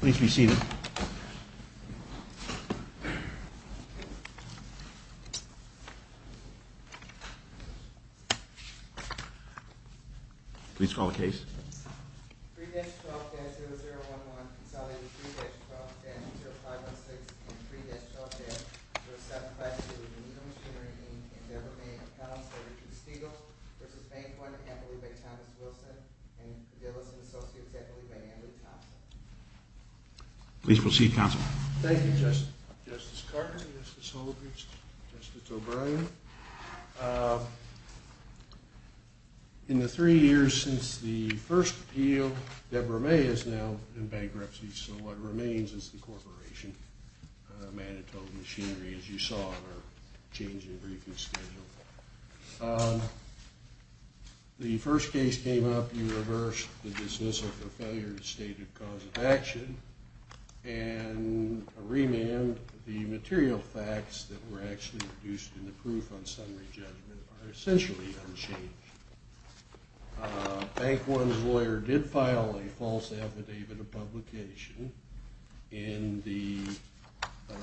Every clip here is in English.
Please be seated. Please call the case. 3-12-0011 consolidated 3-12-00516 and 3-12-00752 Nito Machinery, Inc. v. Bank One N.A. Please proceed, counsel. Thank you, Justice. Justice Carter, Justice Holbrook, Justice O'Brien. In the three years since the first appeal, Deborah May is now in bankruptcy. So what remains is the corporation, Manitoba Machinery, as you saw in our change in briefing schedule. The first case came up. You reversed the dismissal for failure to state a cause of action and a remand. The material facts that were actually produced in the proof on summary judgment are essentially unchanged. Bank One's lawyer did file a false affidavit of publication in the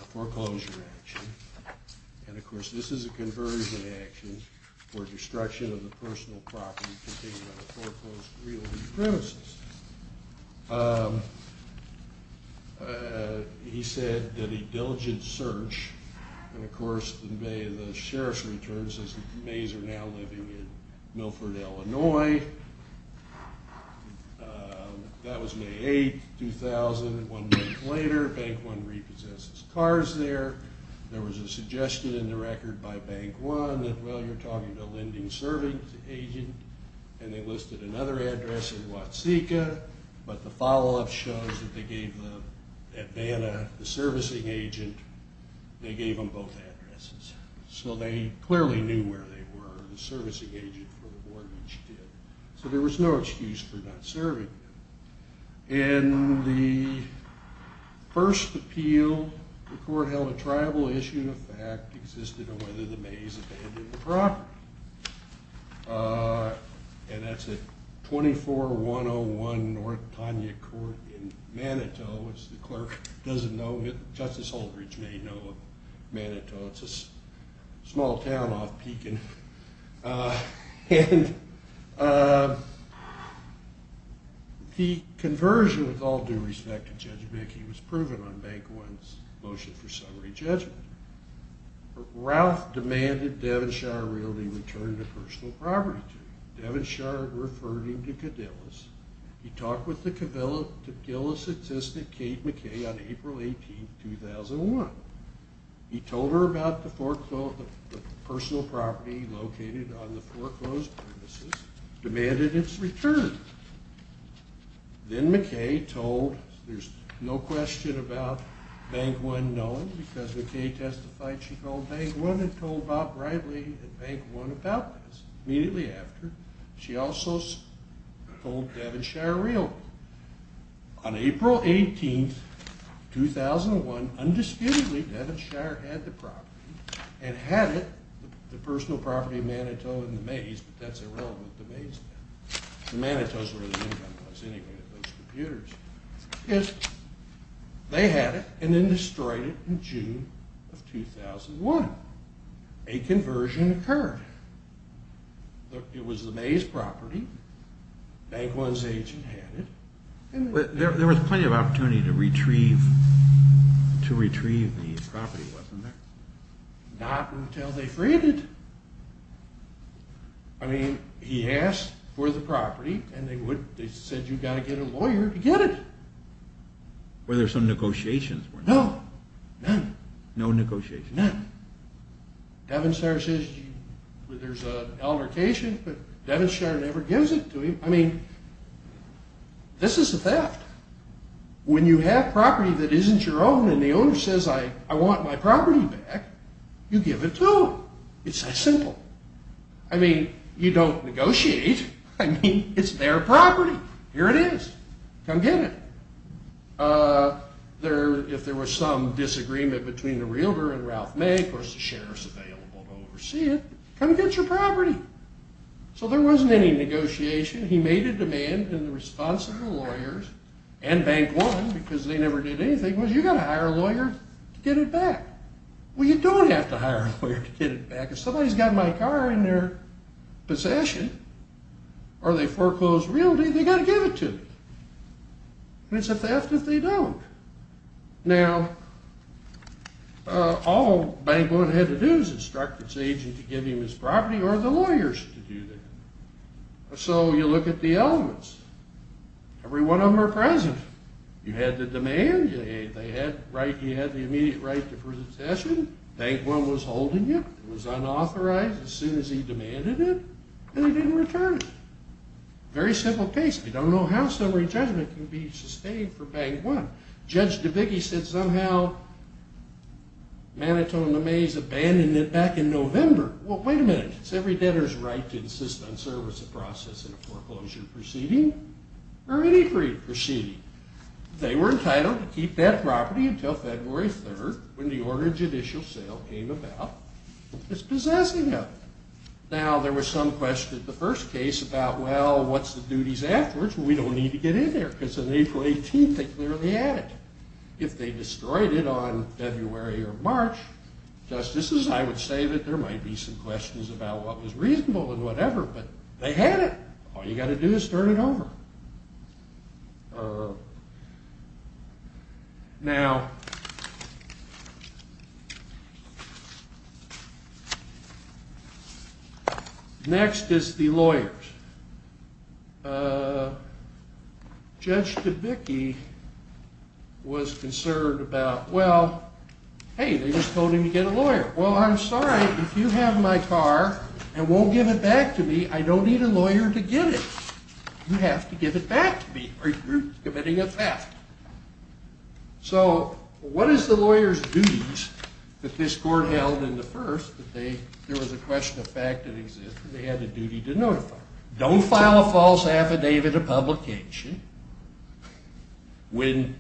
foreclosure action. And, of course, this is a conversion action for destruction of the personal property contained in a foreclosed realty premises. He said that a diligent search, and, of course, the sheriff's return says that May is now living in Milford, Illinois. That was May 8, 2001. One month later, Bank One repossesses cars there. There was a suggestion in the record by Bank One that, well, you're talking to a lending service agent. And they listed another address in Watsika. But the follow-up shows that they gave them at Vanna, the servicing agent, they gave them both addresses. So they clearly knew where they were, the servicing agent for the mortgage did. So there was no excuse for not serving them. In the first appeal, the court held a tribal issue. The fact existed on whether the Mays abandoned the property. And that's at 24101 North Tanya Court in Manitou, which the clerk doesn't know. Justice Holdridge may know of Manitou. It's a small town off Pekin. And the conversion, with all due respect to Judge Mackey, was proven on Bank One's motion for summary judgment. Ralph demanded Devonshire Realty return the personal property to him. Devonshire referred him to Cadillus. He talked with the Cadillus assistant, Kate McKay, on April 18, 2001. He told her about the personal property located on the foreclosed premises, demanded its return. Then McKay told, there's no question about Bank One knowing, because McKay testified she called Bank One and told Bob Bradley and Bank One about this. Immediately after, she also told Devonshire Realty. On April 18, 2001, undisputedly, Devonshire had the property and had it, the personal property of Manitou and the Mays, but that's irrelevant to Mays now. The Manitous were the income was anyway, those computers. They had it and then destroyed it in June of 2001. A conversion occurred. It was the Mays property. Bank One's agent had it. There was plenty of opportunity to retrieve the property, wasn't there? Not until they freed it. I mean, he asked for the property and they said you've got to get a lawyer to get it. Were there some negotiations? No, none. No negotiations? None. Devonshire says there's an altercation, but Devonshire never gives it to him. I mean, this is a theft. When you have property that isn't your own and the owner says I want my property back, you give it to him. It's that simple. I mean, you don't negotiate. I mean, it's their property. Here it is. Come get it. If there was some disagreement between the realtor and Ralph May, of course the sheriff's available to oversee it. Come get your property. So there wasn't any negotiation. He made a demand in the response of the lawyers and Bank One because they never did anything, was you've got to hire a lawyer to get it back. Well, you don't have to hire a lawyer to get it back. If somebody's got my car in their possession or they foreclosed realty, they've got to give it to me. And it's a theft if they don't. Now, all Bank One had to do is instruct its agent to give him his property or the lawyers to do that. So you look at the elements. Every one of them are present. You had the demand. You had the immediate right to presentation. Bank One was holding it. It was unauthorized as soon as he demanded it, and he didn't return it. Very simple case. You don't know how summary judgment can be sustained for Bank One. Judge DeVicke said somehow Manitoba Mamey's abandoned it back in November. Well, wait a minute. It's every debtor's right to insist on service of process in a foreclosure proceeding or any free proceeding. They were entitled to keep that property until February 3rd when the order of judicial sale came about. It's possessing of it. Now, there was some question at the first case about, well, what's the duties afterwards? Well, we don't need to get in there because on April 18th they clearly had it. If they destroyed it on February or March, justices, I would say that there might be some questions about what was reasonable and whatever, but they had it. All you got to do is turn it over. Now, next is the lawyers. Judge DeVicke was concerned about, well, hey, they just told him to get a lawyer. Well, I'm sorry. If you have my car and won't give it back to me, I don't need a lawyer to get it. You have to give it back to me or you're committing a theft. So what is the lawyer's duties that this court held in the first that there was a question of fact that existed? They had a duty to notify. Don't file a false affidavit of publication. When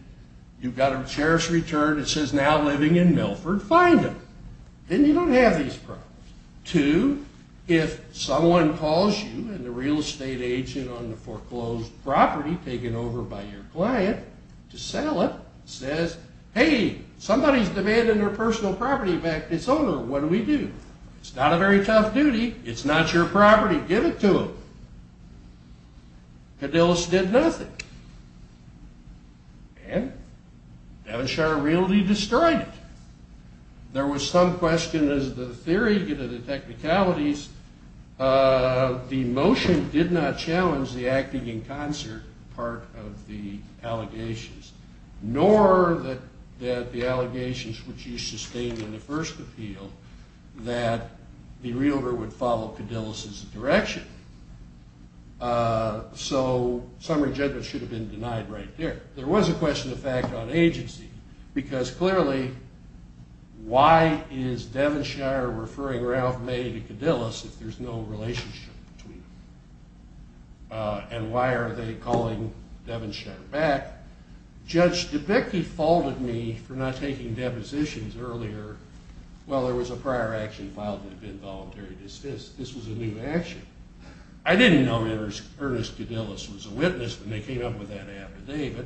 you've got a sheriff's return that says now living in Milford, find him. Then you don't have these problems. Two, if someone calls you and the real estate agent on the foreclosed property taken over by your client to sell it, says, hey, somebody's demanding their personal property back to its owner. What do we do? It's not a very tough duty. It's not your property. Give it to them. Cadillus did nothing. And Devonshire really destroyed it. There was some question as to the theory, the technicalities. The motion did not challenge the acting in concert part of the allegations, nor that the allegations which you sustained in the first appeal that the realtor would follow Cadillus' direction. So summary judgment should have been denied right there. There was a question of fact on agency because clearly why is Devonshire referring Ralph May to Cadillus if there's no relationship between them? And why are they calling Devonshire back? Judge DeBicke faulted me for not taking depositions earlier. Well, there was a prior action filed in the involuntary dismissal. This was a new action. I didn't know Ernest Cadillus was a witness when they came up with that affidavit.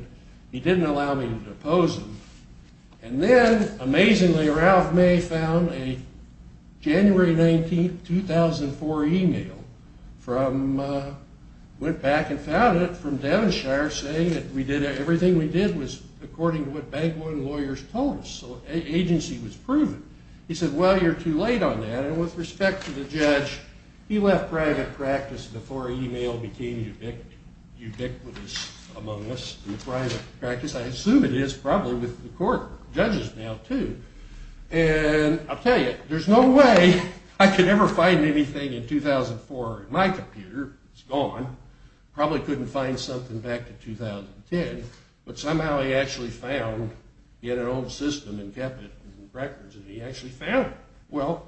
He didn't allow me to depose him. And then, amazingly, Ralph May found a January 19, 2004, email, went back and found it from Devonshire saying that everything we did was according to what bank loan lawyers told us. So agency was proven. He said, well, you're too late on that. And with respect to the judge, he left private practice before email became ubiquitous among us in private practice. I assume it is probably with the court judges now, too. And I'll tell you, there's no way I could ever find anything in 2004 in my computer. It's gone. Probably couldn't find something back in 2010. But somehow he actually found it in an old system and kept it in records. And he actually found it. Well,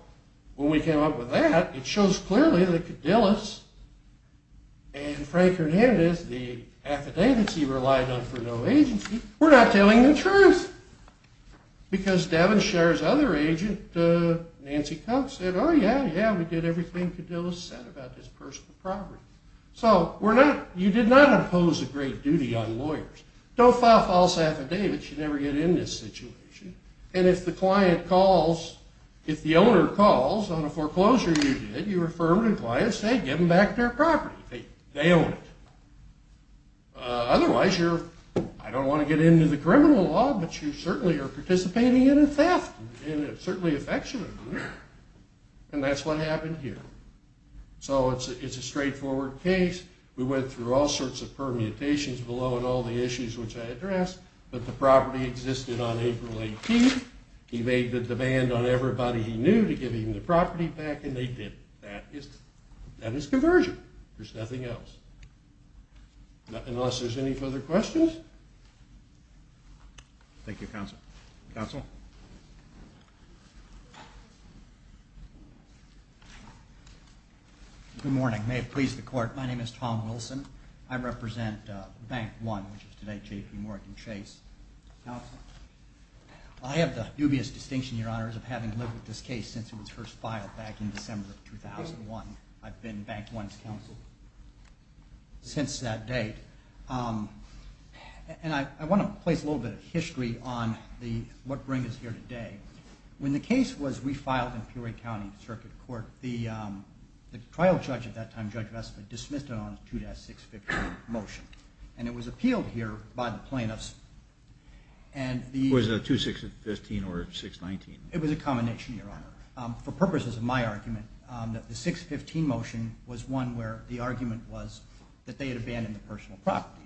when we came up with that, it shows clearly that Cadillus and Frank Hernandez, the affidavits he relied on for no agency, were not telling the truth. Because Devonshire's other agent, Nancy Cox, said, oh, yeah, yeah, we did everything Cadillus said about this personal property. So you did not impose a great duty on lawyers. Don't file false affidavits. You never get in this situation. And if the client calls, if the owner calls on a foreclosure you did, you affirmed and client said, give them back their property. They own it. Otherwise, you're, I don't want to get into the criminal law, but you certainly are participating in a theft, and certainly affectionately. And that's what happened here. So it's a straightforward case. We went through all sorts of permutations below and all the issues which I addressed. But the property existed on April 18th. He made the demand on everybody he knew to give him the property back, and they did. That is conversion. There's nothing else. Unless there's any further questions. Thank you, Counsel. Counsel. Good morning. May it please the Court. My name is Tom Wilson. I represent Bank One, which is today JPMorgan Chase. Counsel. I have the dubious distinction, Your Honor, of having lived with this case since it was first filed back in December of 2001. I've been Bank One's counsel since that date. And I want to place a little bit of history on what brings us here today. When the case was refiled in Peoria County Circuit Court, the trial judge at that time, Judge Vestma, dismissed it on a 2-6-15 motion. And it was appealed here by the plaintiffs. Was it a 2-6-15 or 6-19? It was a combination, Your Honor. For purposes of my argument, the 6-15 motion was one where the argument was that they had abandoned the personal property.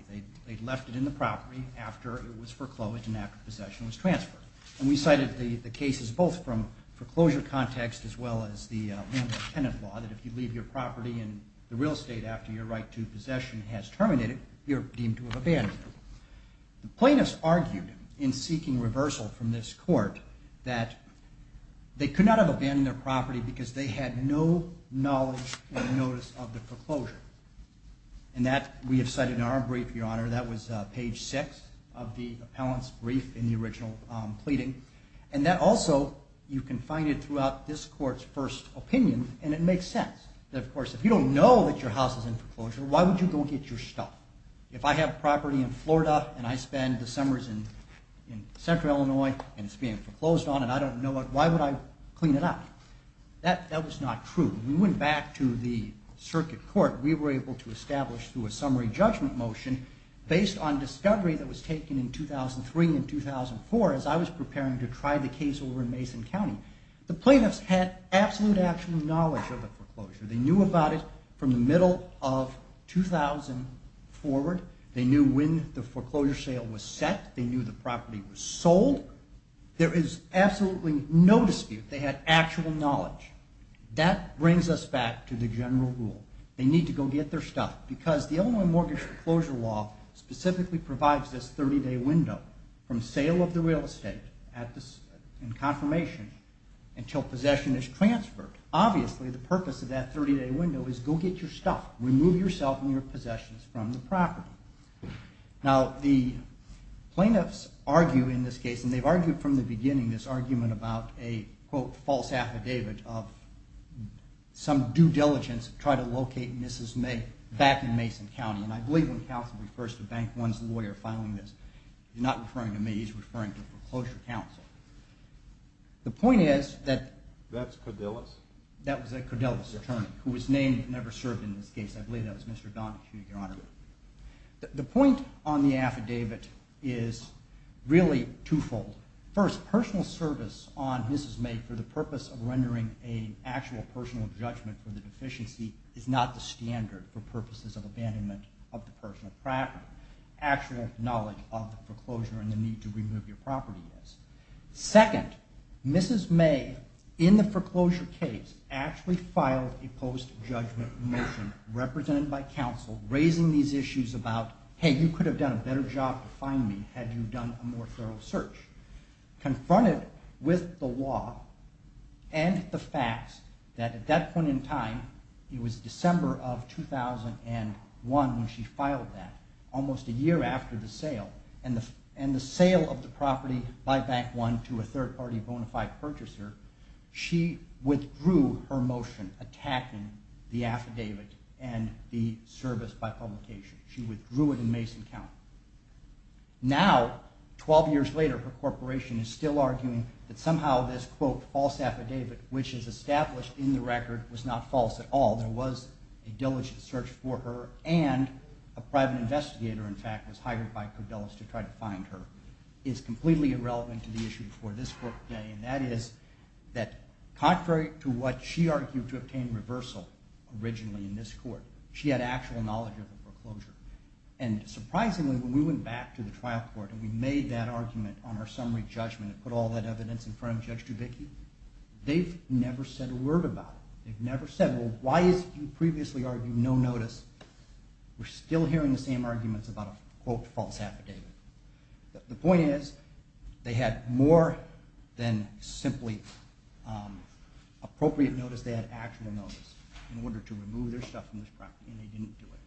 They'd left it in the property after it was foreclosed and after possession was transferred. And we cited the cases both from foreclosure context as well as the landlord-tenant law that if you leave your property in the real estate after your right to possession has terminated, you're deemed to have abandoned it. The plaintiffs argued in seeking reversal from this court that they could not have abandoned their property because they had no knowledge or notice of the foreclosure. And that we have cited in our brief, Your Honor. That was page 6 of the appellant's brief in the original pleading. And that also, you can find it throughout this court's first opinion, and it makes sense. Of course, if you don't know that your house is in foreclosure, why would you go get your stuff? If I have property in Florida and I spend the summers in central Illinois and it's being foreclosed on and I don't know it, why would I clean it up? That was not true. When we went back to the circuit court, we were able to establish through a summary judgment motion based on discovery that was taken in 2003 and 2004 as I was preparing to try the case over in Mason County. The plaintiffs had absolute actual knowledge of the foreclosure. They knew about it from the middle of 2000 forward. They knew when the foreclosure sale was set. They knew the property was sold. There is absolutely no dispute. They had actual knowledge. That brings us back to the general rule. They need to go get their stuff because the Illinois Mortgage Foreclosure Law specifically provides this 30-day window from sale of the real estate and confirmation until possession is transferred. Obviously, the purpose of that 30-day window is go get your stuff. Remove yourself and your possessions from the property. Now, the plaintiffs argue in this case, and they've argued from the beginning this argument about a, quote, due diligence to try to locate Mrs. May back in Mason County, and I believe when counsel refers to Bank One's lawyer filing this, he's not referring to me. He's referring to the foreclosure counsel. The point is that... That's Cordellis. That was a Cordellis attorney who was named and never served in this case. I believe that was Mr. Donahue, Your Honor. The point on the affidavit is really twofold. First, personal service on Mrs. May for the purpose of rendering an actual personal judgment for the deficiency is not the standard for purposes of abandonment of the personal property. Actual knowledge of the foreclosure and the need to remove your property is. Second, Mrs. May, in the foreclosure case, actually filed a post-judgment motion represented by counsel raising these issues about, hey, you could have done a better job to find me had you done a more thorough search. Confronted with the law and the facts that at that point in time, it was December of 2001 when she filed that, almost a year after the sale, and the sale of the property by Bank One to a third-party bona fide purchaser, she withdrew her motion attacking the affidavit and the service by publication. She withdrew it in Mason County. Now, 12 years later, her corporation is still arguing that somehow this, quote, false affidavit, which is established in the record, was not false at all. There was a diligent search for her, and a private investigator, in fact, was hired by Koudelis to try to find her. It is completely irrelevant to the issue before this court today, and that is that contrary to what she argued to obtain reversal originally in this court, she had actual knowledge of the foreclosure. And surprisingly, when we went back to the trial court and we made that argument on our summary judgment and put all that evidence in front of Judge Dubicki, they've never said a word about it. They've never said, well, why is it you previously argued no notice? We're still hearing the same arguments about a, quote, false affidavit. The point is they had more than simply appropriate notice. They had actual notice in order to remove their stuff from this property, and they didn't do it.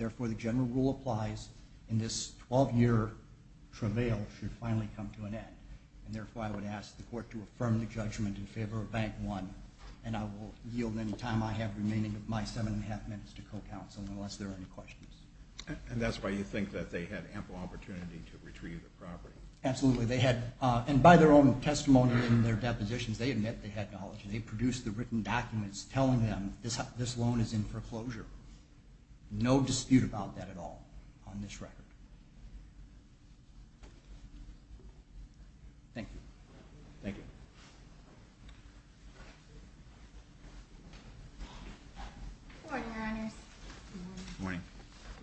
Therefore, the general rule applies in this 12-year travail should finally come to an end. And therefore, I would ask the court to affirm the judgment in favor of Bank 1, and I will yield any time I have remaining of my seven and a half minutes to co-counsel unless there are any questions. And that's why you think that they had ample opportunity to retrieve the property. Absolutely. They had, and by their own testimony in their depositions, they admit they had knowledge, and they produced the written documents telling them this loan is in foreclosure. No dispute about that at all on this record. Thank you. Thank you. Good morning, Your Honors. Good morning.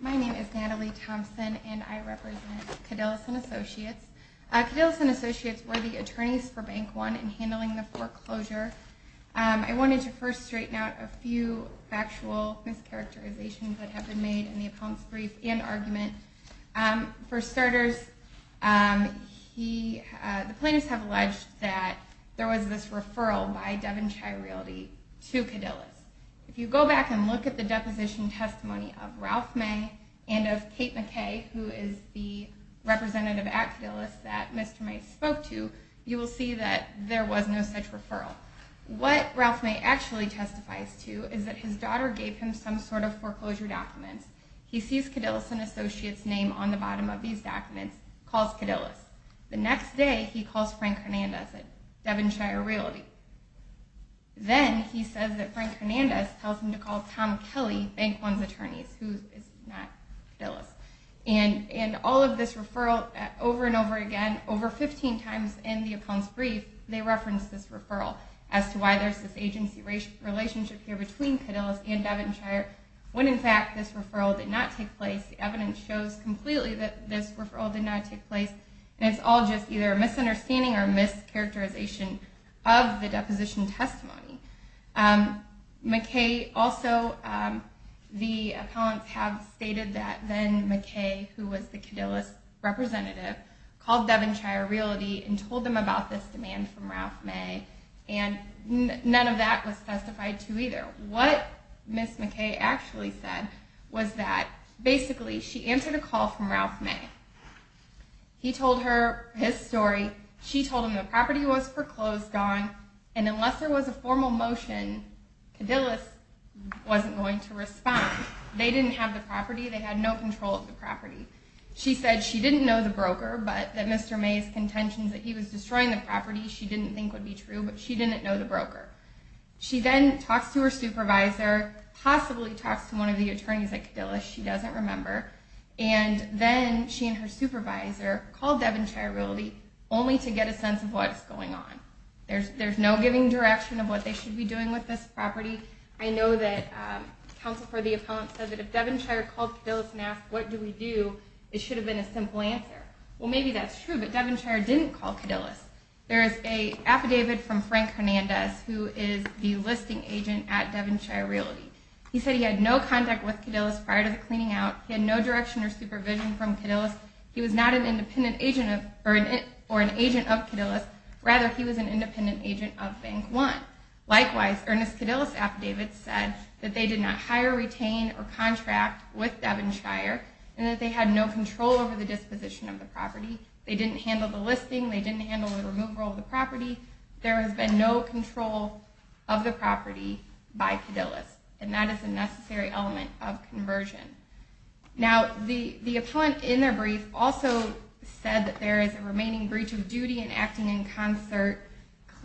My name is Natalie Thompson, and I represent Cadillac & Associates. Cadillac & Associates were the attorneys for Bank 1 in handling the foreclosure. I wanted to first straighten out a few factual mischaracterizations that have been made in the appellant's brief and argument. For starters, the plaintiffs have alleged that there was this referral by Devin Chirildi to Cadillac. If you go back and look at the deposition testimony of Ralph May and of Kate McKay, who is the representative at Cadillac that Mr. May spoke to, you will see that there was no such referral. What Ralph May actually testifies to is that his daughter gave him some sort of foreclosure documents. He sees Cadillac & Associates' name on the bottom of these documents, calls Cadillac. The next day, he calls Frank Hernandez at Devin Chirildi. Then he says that Frank Hernandez tells him to call Tom Kelly, Bank 1's attorneys, who is not Cadillac. All of this referral over and over again, over 15 times in the appellant's brief, they reference this referral as to why there's this agency relationship here between Cadillac and Devin Chirildi, when in fact this referral did not take place. The evidence shows completely that this referral did not take place. It's all just either a misunderstanding or a mischaracterization of the deposition testimony. McKay also, the appellants have stated that then McKay, who was the Cadillac representative, called Devin Chirildi and told them about this demand from Ralph May, and none of that was testified to either. What Ms. McKay actually said was that, basically, she answered a call from Ralph May. He told her his story. She told him the property was foreclosed on, and unless there was a formal motion, Cadillac wasn't going to respond. They didn't have the property. They had no control of the property. She said she didn't know the broker, but that Mr. May's contentions that he was destroying the property, she didn't think would be true, but she didn't know the broker. She then talks to her supervisor, possibly talks to one of the attorneys at Cadillac, she doesn't remember, and then she and her supervisor call Devin Chirildi only to get a sense of what is going on. There's no giving direction of what they should be doing with this property. I know that counsel for the appellants said that if Devin Chirildi called Cadillac and asked what do we do, it should have been a simple answer. Well, maybe that's true, but Devin Chirildi didn't call Cadillac. There is an affidavit from Frank Hernandez, who is the listing agent at Devin Chirildi. He said he had no contact with Cadillac prior to the cleaning out. He had no direction or supervision from Cadillac. He was not an independent agent or an agent of Cadillac. Rather, he was an independent agent of Bank One. Likewise, Ernest Cadillac's affidavit said that they did not hire, retain, or contract with Devin Chirildi and that they had no control over the disposition of the property. They didn't handle the listing. They didn't handle the removal of the property. There has been no control of the property by Cadillac, and that is a necessary element of conversion. Now, the appellant in their brief also said that there is a remaining breach of duty and acting in concert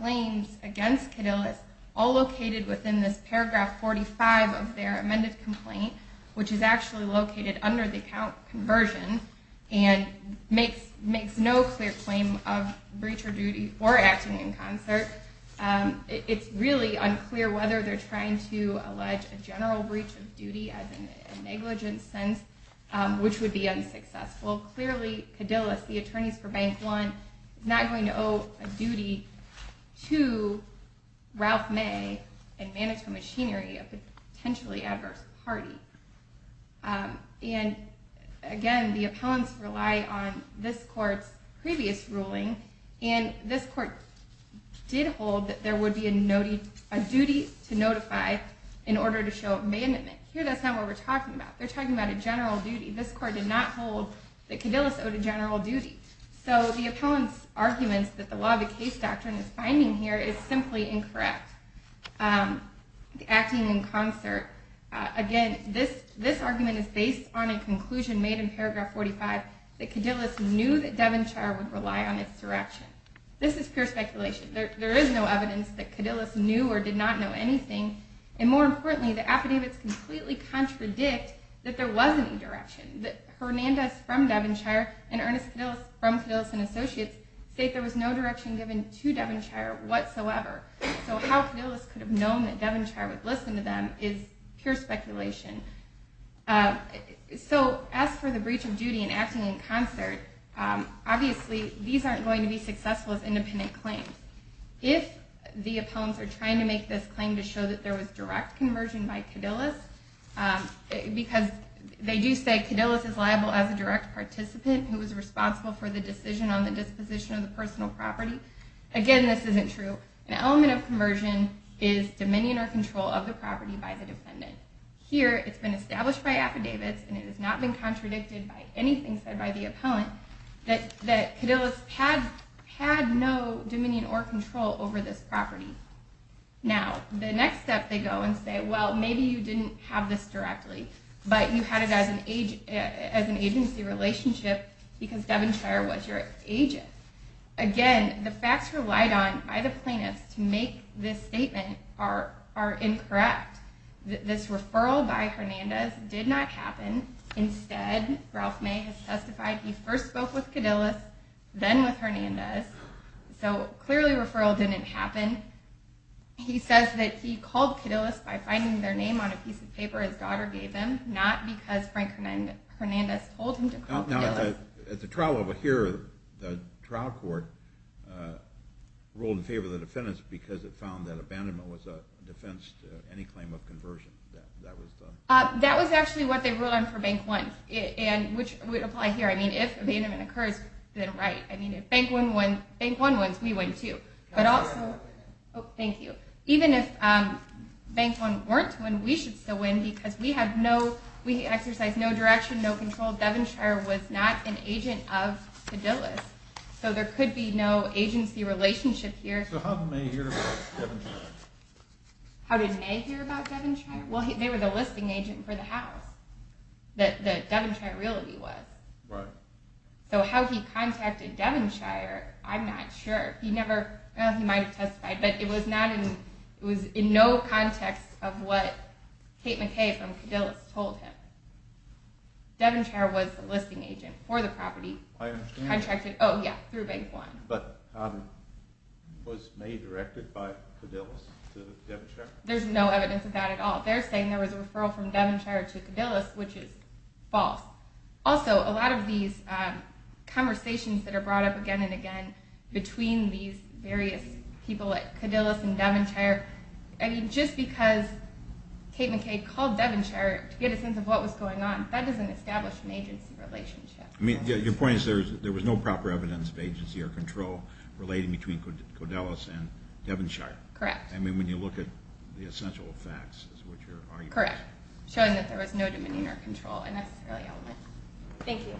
claims against Cadillac, all located within this paragraph 45 of their amended complaint, which is actually located under the account conversion and makes no clear claim of breach of duty or acting in concert. It's really unclear whether they're trying to allege a general breach of duty as in a negligent sense, which would be unsuccessful. Clearly, Cadillac, the attorneys for Bank One, is not going to owe a duty to Ralph May and Manitou Machinery, a potentially adverse party. Again, the appellants rely on this court's previous ruling, and this court did hold that there would be a duty to notify in order to show abandonment. Here, that's not what we're talking about. They're talking about a general duty. This court did not hold that Cadillac owed a general duty. So the appellant's arguments that the law of the case doctrine is finding here is simply incorrect, acting in concert. Again, this argument is based on a conclusion made in paragraph 45 that Cadillac knew that Devonshire would rely on its direction. This is pure speculation. There is no evidence that Cadillac knew or did not know anything, and more importantly, the affidavits completely contradict that there was any direction. Hernandez from Devonshire and Ernest Cadillac from Cadillac & Associates state there was no direction given to Devonshire whatsoever. So how Cadillac could have known that Devonshire would listen to them is pure speculation. So as for the breach of duty and acting in concert, obviously these aren't going to be successful as independent claims. If the appellants are trying to make this claim to show that there was direct conversion by Cadillac, because they do say Cadillac is liable as a direct participant who was responsible for the decision on the disposition of the personal property, again, this isn't true. An element of conversion is dominion or control of the property by the defendant. Here, it's been established by affidavits, and it has not been contradicted by anything said by the appellant, that Cadillac had no dominion or control over this property. Now, the next step they go and say, well, maybe you didn't have this directly, but you had it as an agency relationship because Devonshire was your agent. Again, the facts relied on by the plaintiffs to make this statement are incorrect. This referral by Hernandez did not happen. Instead, Ralph May has testified he first spoke with Cadillac, then with Hernandez. So clearly referral didn't happen. He says that he called Cadillac by finding their name on a piece of paper his daughter gave him, not because Frank Hernandez told him to call Cadillac. Now, at the trial level here, the trial court ruled in favor of the defendant because it found that abandonment was a defense to any claim of conversion. That was actually what they ruled on for Bank 1, which would apply here. I mean, if abandonment occurs, then right. I mean, if Bank 1 wins, we win too. But also, even if Bank 1 weren't to win, we should still win because we exercised no direction, no control. Devonshire was not an agent of Cadillac, so there could be no agency relationship here. So how did May hear about Devonshire? How did May hear about Devonshire? Well, they were the listing agent for the house that Devonshire Realty was. Right. So how he contacted Devonshire, I'm not sure. He never, well, he might have testified, but it was in no context of what Kate McKay from Cadillac told him. Devonshire was the listing agent for the property. I understand that. Oh, yeah, through Bank 1. But was May directed by Cadillac to Devonshire? There's no evidence of that at all. They're saying there was a referral from Devonshire to Cadillac, which is false. Also, a lot of these conversations that are brought up again and again between these various people at Cadillac and Devonshire, I mean, just because Kate McKay called Devonshire to get a sense of what was going on, that doesn't establish an agency relationship. I mean, your point is there was no proper evidence of agency or control relating between Codelus and Devonshire. Correct. I mean, when you look at the essential facts, is what your argument is. Correct. Showing that there was no dominion or control and necessarily element. Thank you.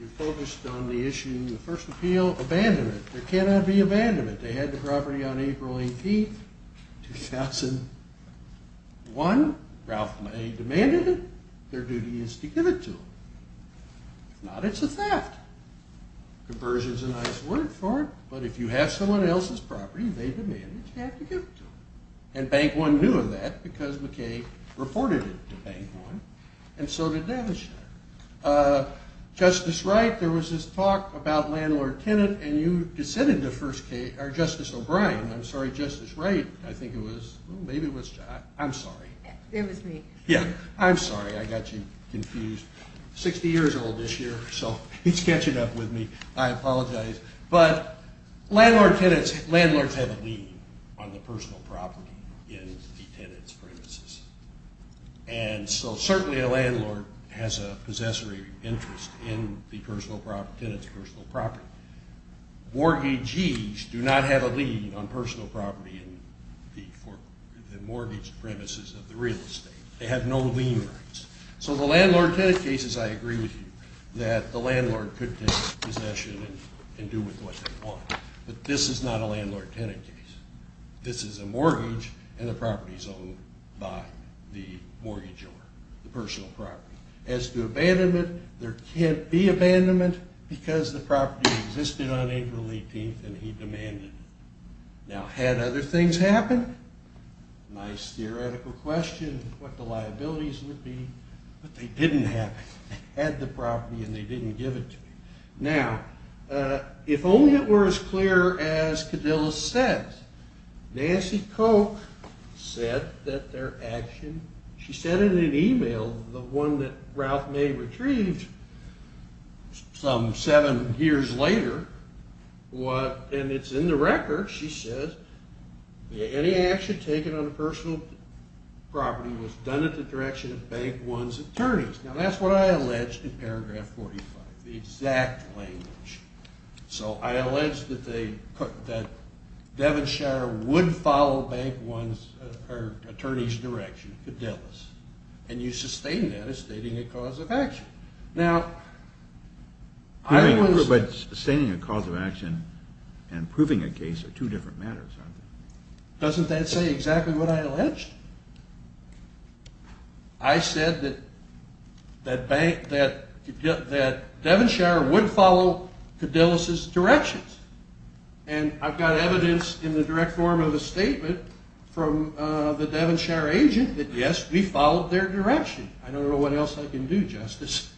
You focused on the issue of the first appeal abandonment. There cannot be abandonment. They said they had the property on April 18, 2001. Ralph May demanded it. Their duty is to give it to them. If not, it's a theft. Conversion's a nice word for it, but if you have someone else's property, they demand that you have to give it to them. And Bank 1 knew of that because McKay reported it to Bank 1, and so did Devonshire. Justice Wright, there was this talk about landlord-tenant, and you dissented to Justice O'Brien. I'm sorry, Justice Wright, I think it was. Maybe it was. I'm sorry. It was me. Yeah. I'm sorry. I got you confused. Sixty years old this year, so he's catching up with me. I apologize. But landlord-tenants, landlords have a lead on the personal property in the tenant's premises. And so certainly a landlord has a possessory interest in the tenant's personal property. Mortgagees do not have a lead on personal property in the mortgage premises of the real estate. They have no lien rights. So the landlord-tenant cases, I agree with you, that the landlord could take possession and do with what they want. But this is not a landlord-tenant case. This is a mortgage, and the property's owned by the mortgage owner, the personal property. As to abandonment, there can't be abandonment because the property existed on April 18th and he demanded it. Now, had other things happened, nice theoretical question, what the liabilities would be. But they didn't have it. They had the property and they didn't give it to me. Now, if only it were as clear as Cadilla said, Nancy Koch said that their action, she said in an e-mail, the one that Ralph May retrieved some seven years later, and it's in the record, she says, any action taken on the personal property was done at the direction of Bank One's attorneys. Now, that's what I alleged in paragraph 45, the exact language. So I alleged that Devonshire would follow Bank One's or attorney's direction, Cadilla's. And you sustain that as stating a cause of action. Now, I don't understand. But sustaining a cause of action and proving a case are two different matters, aren't they? Doesn't that say exactly what I alleged? I said that Devonshire would follow Cadilla's directions. And I've got evidence in the direct form of a statement from the Devonshire agent that, yes, we followed their direction. I don't know what else I can do, Justice.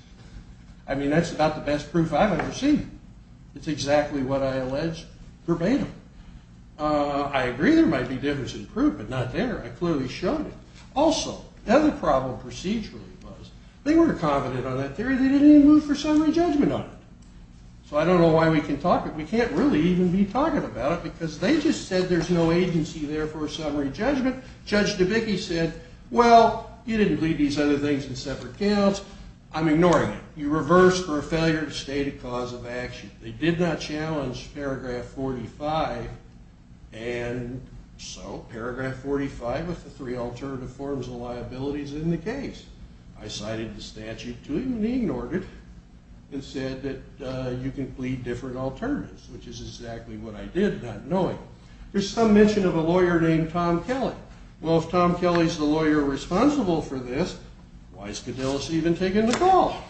I mean, that's about the best proof I've ever seen. It's exactly what I alleged verbatim. I agree there might be difference in proof, but not there. I clearly showed it. Also, the other problem procedurally was they were confident on that theory. They didn't even move for summary judgment on it. So I don't know why we can talk it. We can't really even be talking about it because they just said there's no agency there for a summary judgment. Judge DeBicke said, well, you didn't plead these other things in separate counts. I'm ignoring it. You reversed for a failure to state a cause of action. They did not challenge paragraph 45. And so paragraph 45 was the three alternative forms of liabilities in the case. I cited the statute, too, and he ignored it and said that you can plead different alternatives, which is exactly what I did, not knowing. There's some mention of a lawyer named Tom Kelly. Well, if Tom Kelly's the lawyer responsible for this, why has Cadillus even taken the call?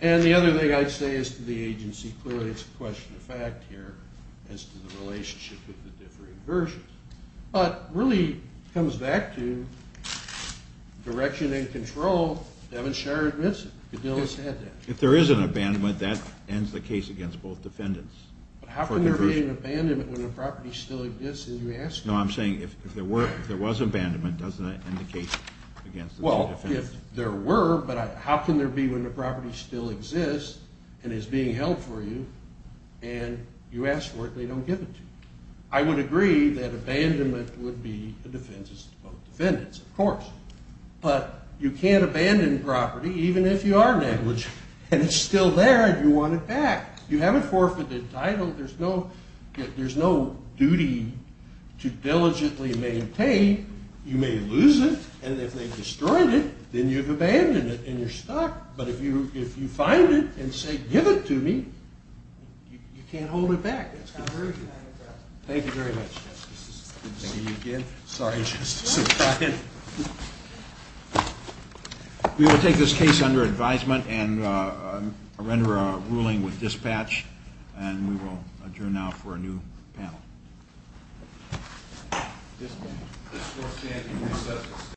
And the other thing I'd say is to the agency, clearly it's a question of fact here as to the relationship with the differing versions. But it really comes back to direction and control. Devin Sharrer admits it. Cadillus had that. If there is an abandonment, that ends the case against both defendants. But how can there be an abandonment when the property still exists and you ask for it? No, I'm saying if there was abandonment, doesn't that end the case against both defendants? Well, if there were, but how can there be when the property still exists and is being held for you and you ask for it and they don't give it to you? I would agree that abandonment would be a defense against both defendants, of course. But you can't abandon property even if you are negligent and it's still there and you want it back. You have a forfeited title. There's no duty to diligently maintain. You may lose it, and if they've destroyed it, then you've abandoned it and you're stuck. But if you find it and say, give it to me, you can't hold it back. Thank you very much, Justice. Good to see you again. Sorry, Justice. We will take this case under advisement and render a ruling with dispatch, and we will adjourn now for a new panel.